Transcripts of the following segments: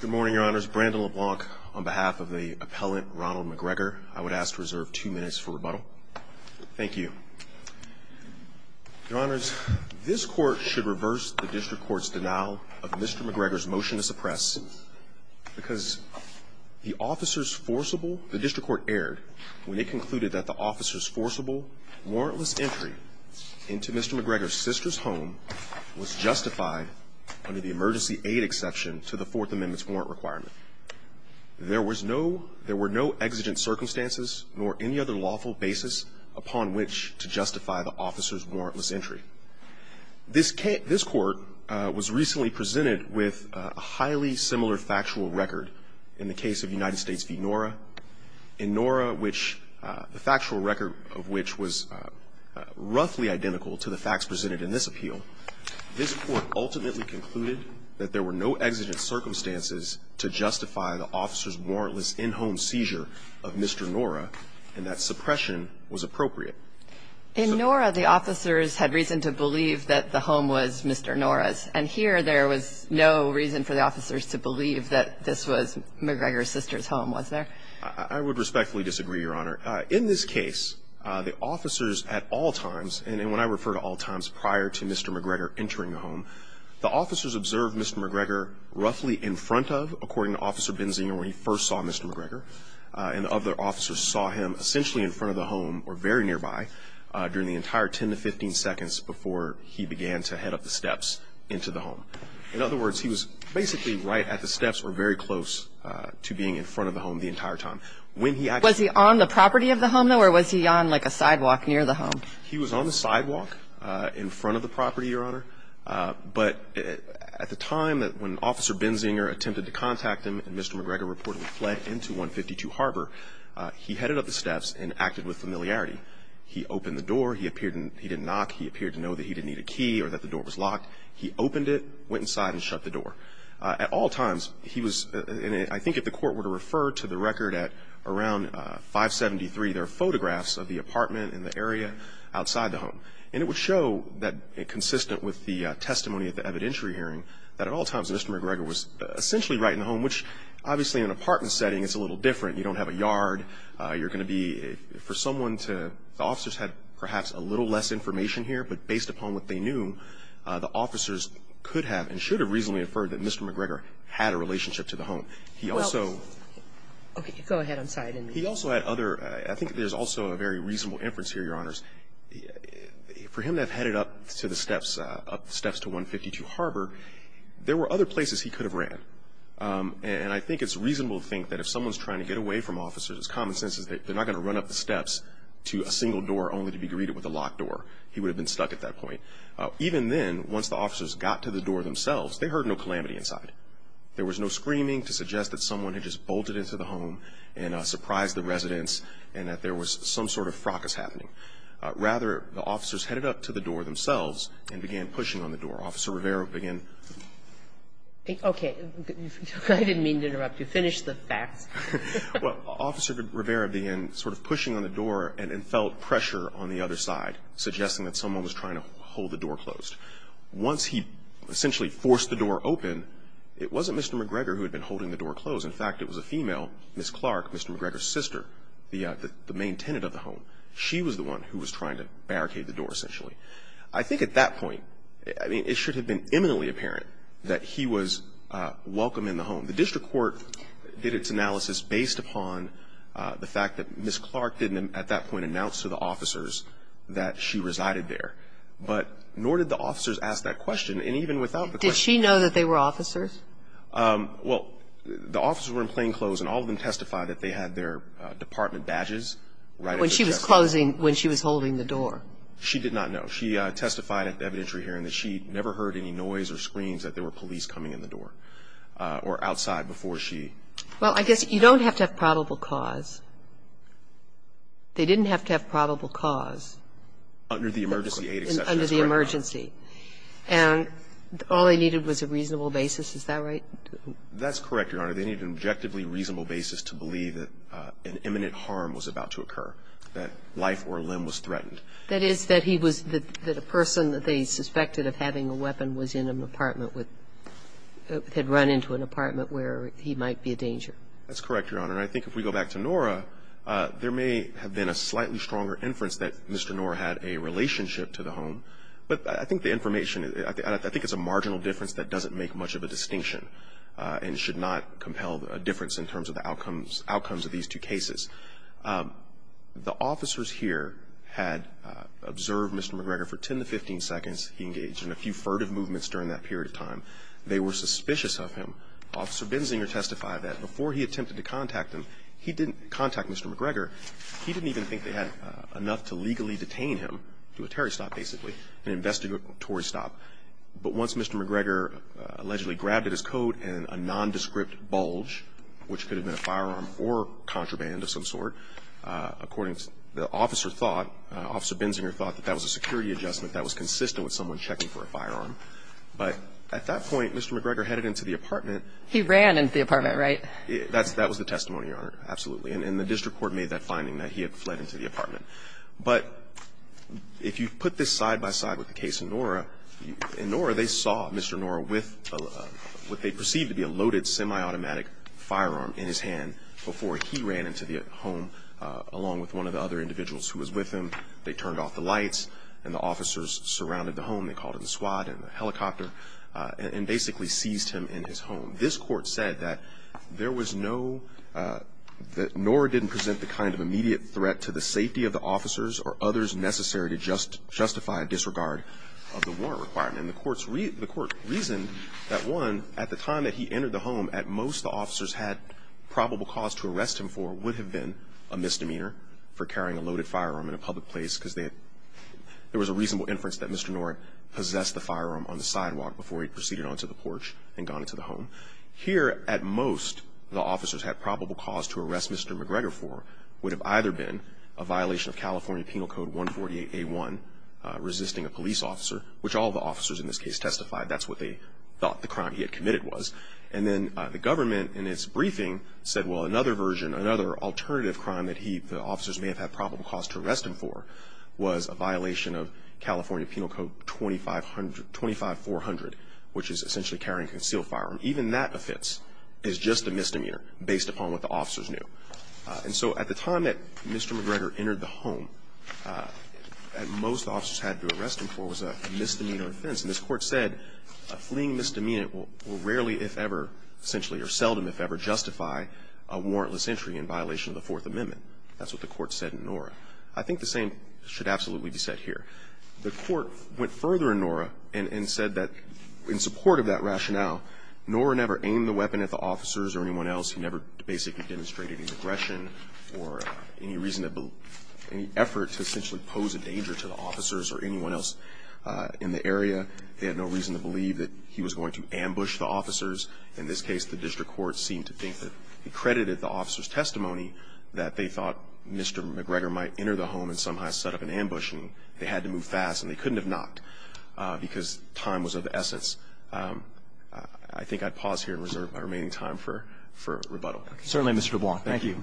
Good morning, Your Honors. Brandon LeBlanc on behalf of the appellant Ronald McGregor. I would ask to reserve two minutes for rebuttal. Thank you. Your Honors, this Court should reverse the District Court's denial of Mr. McGregor's motion to suppress because the officer's forcible, the District Court erred when it concluded that the officer's forcible warrantless entry into Mr. McGregor's sister's home was justified under the emergency aid exception to the Fourth Amendment's warrant requirement. There was no – there were no exigent circumstances nor any other lawful basis upon which to justify the officer's warrantless entry. This – this Court was recently presented with a highly similar factual record in the case of United States v. Nora. In Nora, which – the factual record of which was roughly identical to the facts presented in this appeal, this Court ultimately concluded that there were no exigent circumstances to justify the officer's warrantless in-home seizure of Mr. Nora, and that suppression was appropriate. In Nora, the officers had reason to believe that the home was Mr. Nora's, and here there was no reason for the officers to believe that this was McGregor's sister's home, was there? I would respectfully disagree, Your Honor. In this case, the officers at all times – and when I refer to all times prior to Mr. McGregor entering the home, the officers observed Mr. McGregor roughly in front of, according to Officer Benzinger, where he first saw Mr. McGregor, and the other officers saw him essentially in front of the home or very nearby during the entire 10 to 15 seconds before he began to head up the steps into the home. In other words, he was basically right at the steps or very close to being in front of the home the entire time. Was he on the property of the home, though, or was he on, like, a sidewalk near the home? He was on the sidewalk in front of the property, Your Honor, but at the time that when Officer Benzinger attempted to contact him and Mr. McGregor reportedly fled into 152 Harbor, he headed up the steps and acted with familiarity. He opened the door. He appeared – he didn't knock. He appeared to know that he didn't need a key or that the door was locked. He opened it, went inside, and shut the door. At all times, he was – and I think if the court were to refer to the record at around 573, there are photographs of the apartment and the area outside the home. And it would show that, consistent with the testimony at the evidentiary hearing, that at all times Mr. McGregor was essentially right in the home, which obviously in an apartment setting it's a little different. You don't have a yard. You're going to be – for someone to – the officers had perhaps a little less information here, but based upon what they knew, the officers could have and should have reasonably inferred that Mr. McGregor was right in the home. He also – Well, okay. Go ahead. I'm sorry. I didn't mean to. He also had other – I think there's also a very reasonable inference here, Your Honors. For him to have headed up to the steps, up the steps to 152 Harbor, there were other places he could have ran. And I think it's reasonable to think that if someone's trying to get away from officers, it's common sense that they're not going to run up the steps to a single door only to be greeted with a locked door. He would have been stuck at that point. Even then, once the officers got to the door themselves, they heard no calamity inside. There was no screaming to suggest that someone had just bolted into the home and surprised the residents and that there was some sort of fracas happening. Rather, the officers headed up to the door themselves and began pushing on the door. Officer Rivera began – Okay. I didn't mean to interrupt you. Finish the facts. Well, Officer Rivera began sort of pushing on the door and felt pressure on the other side, suggesting that someone was trying to hold the door closed. Once he essentially forced the door open, it wasn't Mr. McGregor who had been holding the door closed. In fact, it was a female, Ms. Clark, Mr. McGregor's sister, the main tenant of the home. She was the one who was trying to barricade the door, essentially. I think at that point, I mean, it should have been imminently apparent that he was welcome in the home. The district court did its analysis based upon the fact that Ms. Clark didn't, at that point, announce to the officers that she resided there. But nor did the Did she know that they were officers? Well, the officers were in plainclothes, and all of them testified that they had their department badges right at the door. When she was closing, when she was holding the door? She did not know. She testified at the evidentiary hearing that she never heard any noise or screams that there were police coming in the door or outside before she – Well, I guess you don't have to have probable cause. They didn't have to have probable cause. Under the emergency aid exception, that's correct. Under the emergency. And all they needed was a reasonable basis. Is that right? That's correct, Your Honor. They needed an objectively reasonable basis to believe that an imminent harm was about to occur, that life or a limb was threatened. That is, that he was – that a person that they suspected of having a weapon was in an apartment with – had run into an apartment where he might be a danger. That's correct, Your Honor. And I think if we go back to Nora, there may have been a slightly stronger inference that Mr. Nora had a relationship to the home. But I think the information – I think it's a marginal difference that doesn't make much of a distinction and should not compel a difference in terms of the outcomes – outcomes of these two cases. The officers here had observed Mr. McGregor for 10 to 15 seconds. He engaged in a few furtive movements during that period of time. They were suspicious of him. Officer Bensinger testified that before he attempted to contact him, he didn't contact Mr. McGregor. He didn't even think they had enough to legally detain him to a terrorist stop, basically, an investigatory stop. But once Mr. McGregor allegedly grabbed at his coat in a nondescript bulge, which could have been a firearm or contraband of some sort, according to the officer thought – Officer Bensinger thought that that was a security adjustment that was consistent with someone checking for a firearm. But at that point, Mr. McGregor headed into the apartment. He ran into the apartment, right? That's – that was the testimony, Your Honor. Absolutely. And the district court made that finding, that he had fled into the apartment. But if you put this side by side with the case of Nora, in Nora, they saw Mr. Nora with what they perceived to be a loaded semi-automatic firearm in his hand before he ran into the home along with one of the other individuals who was with him. They turned off the lights, and the officers surrounded the home. They called in the SWAT and the helicopter and basically seized him in his home. This court said that there was no – that Nora didn't present the kind of immediate threat to the safety of the officers or others necessary to justify a disregard of the warrant requirement. And the court's – the court reasoned that, one, at the time that he entered the home, at most the officers had probable cause to arrest him for would have been a misdemeanor for carrying a loaded firearm in a public place because they – there was a reasonable inference that Mr. Nora possessed the firearm on the sidewalk before he proceeded on to the porch and gone into the home. Here, at most, the officers had probable cause to arrest Mr. McGregor for would have either been a violation of California Penal Code 148A1, resisting a police officer, which all the officers in this case testified that's what they thought the crime he had committed was. And then the government, in its briefing, said, well, another version, another alternative crime that he – the officers may have had probable cause to arrest him for was a violation of California Penal Code 2500 – 25400, which is essentially carrying a concealed firearm. Even that offense is just a misdemeanor based upon what the officers knew. And so at the time that Mr. McGregor entered the home, at most the officers had to arrest him for was a misdemeanor offense. And this Court said a fleeing misdemeanor will rarely, if ever, essentially, or seldom, if ever, justify a warrantless entry in violation of the Fourth Amendment. That's what the Court said in Nora. I think the same should absolutely be said here. The Court went further in Nora and said that in support of that rationale, Nora never aimed the weapon at the officers or anyone else. He never basically demonstrated any aggression or any reason to believe – any effort to essentially pose a danger to the officers or anyone else in the area. He had no reason to believe that he was going to ambush the officers. In this case, the district court seemed to think that he credited the officers' testimony that they thought Mr. McGregor might enter the home and somehow set up an ambush, and they had to move fast, and they couldn't have not because time was of essence. I think I'd pause here and reserve my remaining time for rebuttal. Roberts. Certainly, Mr. LeBlanc. Thank you.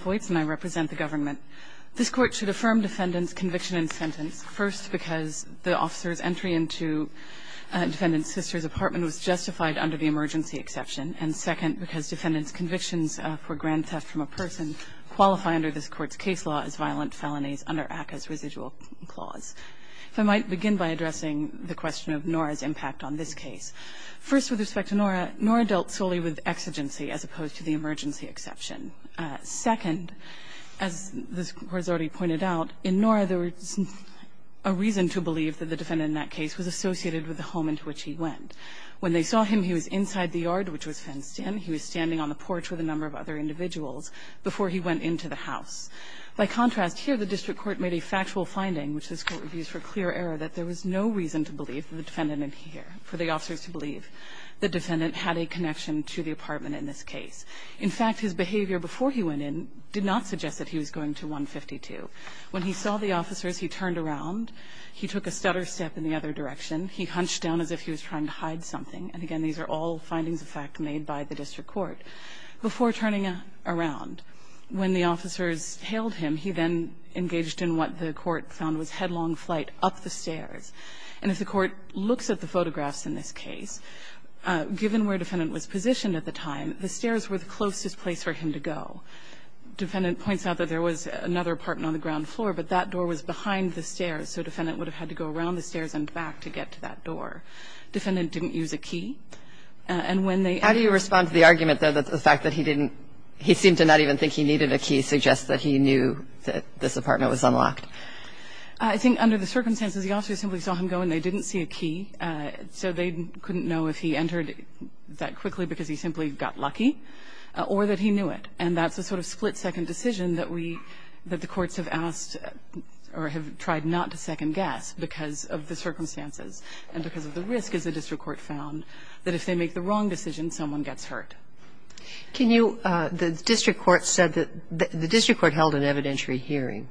Boytz, and I represent the government. This Court should affirm defendant's conviction in sentence, first because the officer's sister's apartment was justified under the emergency exception, and second because defendant's convictions for grand theft from a person qualify under this Court's case law as violent felonies under ACCA's residual clause. If I might begin by addressing the question of Nora's impact on this case. First, with respect to Nora, Nora dealt solely with exigency as opposed to the emergency exception. Second, as this Court has already pointed out, in Nora there was a reason to believe that the defendant in that case was associated with the home into which he went. When they saw him, he was inside the yard, which was fenced in. He was standing on the porch with a number of other individuals before he went into the house. By contrast, here the district court made a factual finding, which this Court reviews for clear error, that there was no reason to believe the defendant in here, for the officers to believe the defendant had a connection to the apartment in this case. In fact, his behavior before he went in did not suggest that he was going to 152. When he saw the officers, he turned around, he took a stutter step in the other direction, he hunched down as if he was trying to hide something. And again, these are all findings of fact made by the district court. Before turning around, when the officers hailed him, he then engaged in what the court found was headlong flight up the stairs. And if the Court looks at the photographs in this case, given where the defendant was positioned at the time, the stairs were the closest place for him to go. The defendant points out that there was another apartment on the ground floor, but that door was behind the stairs. So the defendant would have had to go around the stairs and back to get to that door. The defendant didn't use a key. And when they -- How do you respond to the argument, though, that the fact that he didn't he seemed to not even think he needed a key suggests that he knew that this apartment was unlocked? I think under the circumstances, the officers simply saw him go and they didn't see a key, so they couldn't know if he entered that quickly because he simply got lucky or that he knew it. And that's a sort of split-second decision that we – that the courts have asked or have tried not to second-guess because of the circumstances and because of the risk, as the district court found, that if they make the wrong decision, someone gets hurt. Can you – the district court said that – the district court held an evidentiary hearing.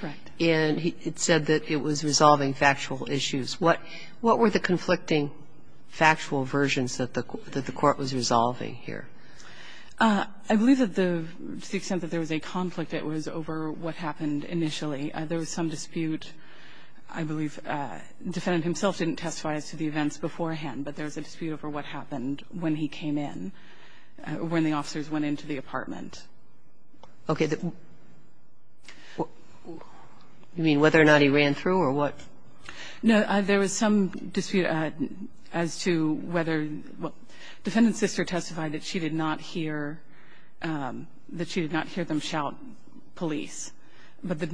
Correct. And it said that it was resolving factual issues. What were the conflicting factual versions that the court was resolving here? I believe that the – to the extent that there was a conflict, it was over what happened initially. There was some dispute, I believe. The defendant himself didn't testify as to the events beforehand, but there was a dispute over what happened when he came in, when the officers went into the apartment. Okay. You mean whether or not he ran through or what? No. There was some dispute as to whether – well, defendant's sister testified that she did not hear – that she did not hear them shout, police, but the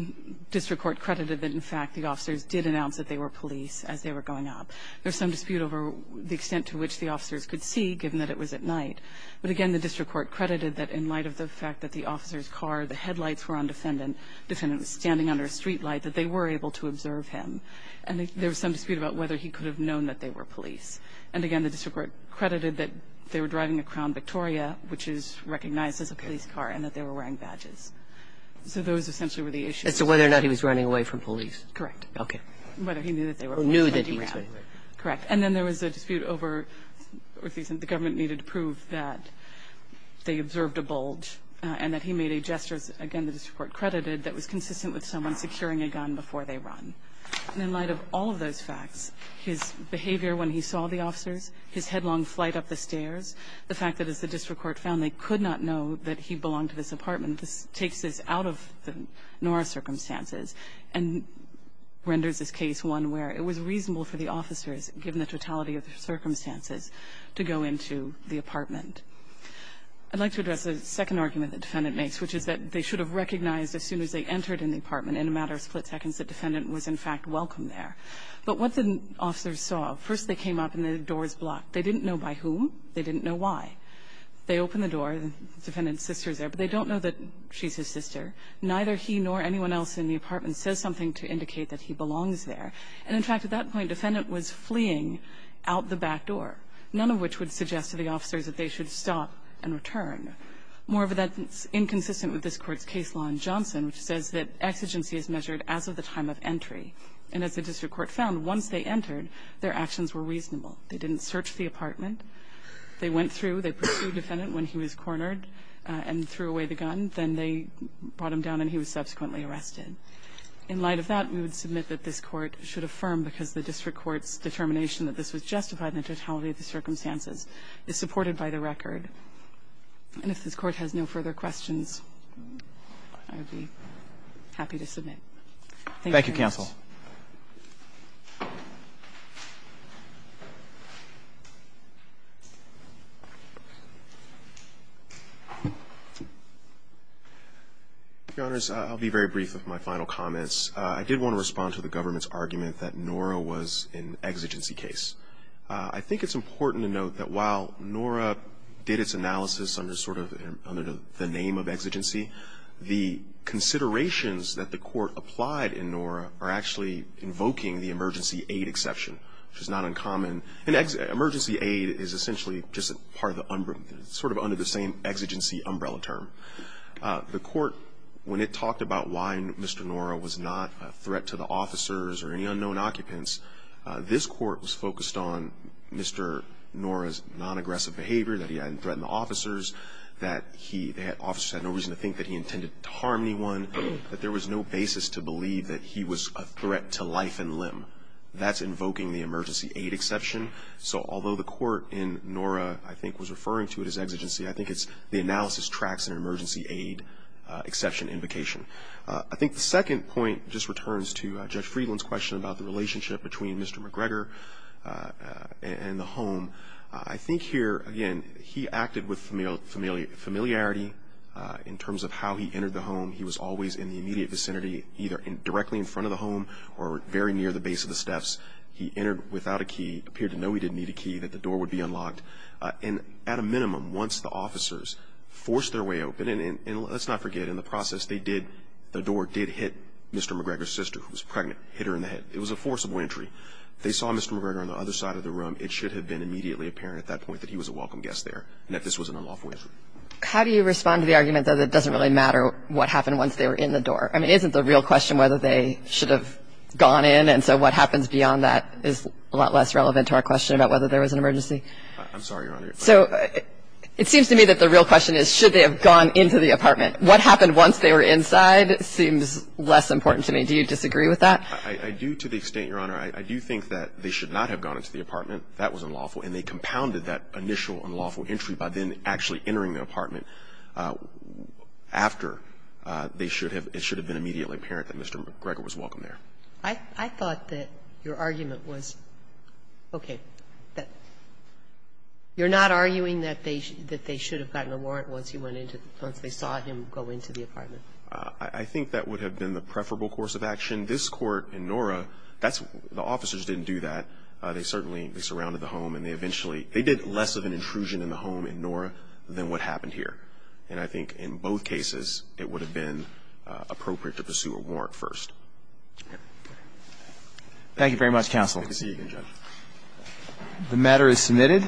district court credited that, in fact, the officers did announce that they were police as they were going up. There was some dispute over the extent to which the officers could see, given that it was at night. But again, the district court credited that in light of the fact that the officer's car, the headlights were on defendant, defendant was standing under a streetlight, that they were able to observe him. And there was some dispute about whether he could have known that they were police. And again, the district court credited that they were driving a Crown Victoria, which is recognized as a police car, and that they were wearing badges. So those essentially were the issues. As to whether or not he was running away from police. Correct. Okay. Whether he knew that they were police. Or knew that he was running away. Correct. And then there was a dispute over the government needed to prove that they observed a bulge and that he made a gesture, again, the district court credited, that was consistent with someone securing a gun before they run. And in light of all of those facts, his behavior when he saw the officers, his headlong flight up the stairs, the fact that as the district court found, they could not know that he belonged to this apartment, this takes this out of the Nora circumstances and renders this case one where it was reasonable for the officers, given the totality of the circumstances, to go into the apartment. I'd like to address a second argument the defendant makes, which is that they should have recognized as soon as they entered in the apartment, in a matter of split seconds, that the defendant was, in fact, welcome there. But what the officers saw, first they came up and the door was blocked. They didn't know by whom, they didn't know why. They opened the door, the defendant's sister's there, but they don't know that she's his sister. Neither he nor anyone else in the apartment says something to indicate that he belongs there. And, in fact, at that point, the defendant was fleeing out the back door, none of which would suggest to the officers that they should stop and return. More of that is inconsistent with this Court's case law in Johnson, which says that exigency is measured as of the time of entry. And as the district court found, once they entered, their actions were reasonable. They didn't search the apartment. They went through, they pursued the defendant when he was cornered and threw away the gun. Then they brought him down and he was subsequently arrested. In light of that, we would submit that this Court should affirm, because the district court's determination that this was justified in the totality of the circumstances, is supported by the record. And if this Court has no further questions, I would be happy to submit. Thank you very much. Roberts. I'll be very brief with my final comments. I did want to respond to the government's argument that Nora was an exigency case. I think it's important to note that while Nora did its analysis under sort of the name of exigency, the considerations that the Court applied in Nora are actually invoking the emergency aid exception, which is not uncommon. And emergency aid is essentially just part of the, sort of under the same exigency umbrella term. The Court, when it talked about why Mr. Nora was not a threat to the officers or any unknown occupants, this Court was focused on Mr. Nora's non-aggressive behavior, that he hadn't threatened the officers, that he, the officers had no reason to think that he intended to harm anyone, that there was no basis to believe that he was a threat to life and limb. That's invoking the emergency aid exception. So although the Court in Nora, I think, was referring to it as exigency, I think it's, the analysis tracks an emergency aid exception invocation. I think the second point just returns to Judge Friedland's question about the relationship between Mr. McGregor and the home. I think here, again, he acted with familiarity in terms of how he entered the home. He was always in the immediate vicinity, either directly in front of the home or very near the base of the steps. He entered without a key, appeared to know he didn't need a key, that the door would be unlocked. And at a minimum, once the officers forced their way open, and let's not forget, in the process, they did, the door did hit Mr. McGregor's sister, who was pregnant, hit her in the head. It was a forcible entry. If they saw Mr. McGregor on the other side of the room, it should have been immediately apparent at that point that he was a welcome guest there, and that this was an unlawful entry. How do you respond to the argument that it doesn't really matter what happened once they were in the door? I mean, isn't the real question whether they should have gone in? And so what happens beyond that is a lot less relevant to our question about whether there was an emergency? I'm sorry, Your Honor. So it seems to me that the real question is, should they have gone into the apartment? What happened once they were inside seems less important to me. Do you disagree with that? I do, to the extent, Your Honor, I do think that they should not have gone into the apartment. That was unlawful. And they compounded that initial unlawful entry by then actually entering the apartment after they should have. It should have been immediately apparent that Mr. McGregor was welcome there. I thought that your argument was, okay, that you're not arguing that they should have gotten a warrant once they saw him go into the apartment. I think that would have been the preferable course of action. This Court in Nora, the officers didn't do that. They certainly surrounded the home and they eventually, they did less of an intrusion in the home in Nora than what happened here. And I think in both cases, it would have been appropriate to pursue a warrant first. Thank you very much, counsel. Good to see you again, Judge. The matter is submitted.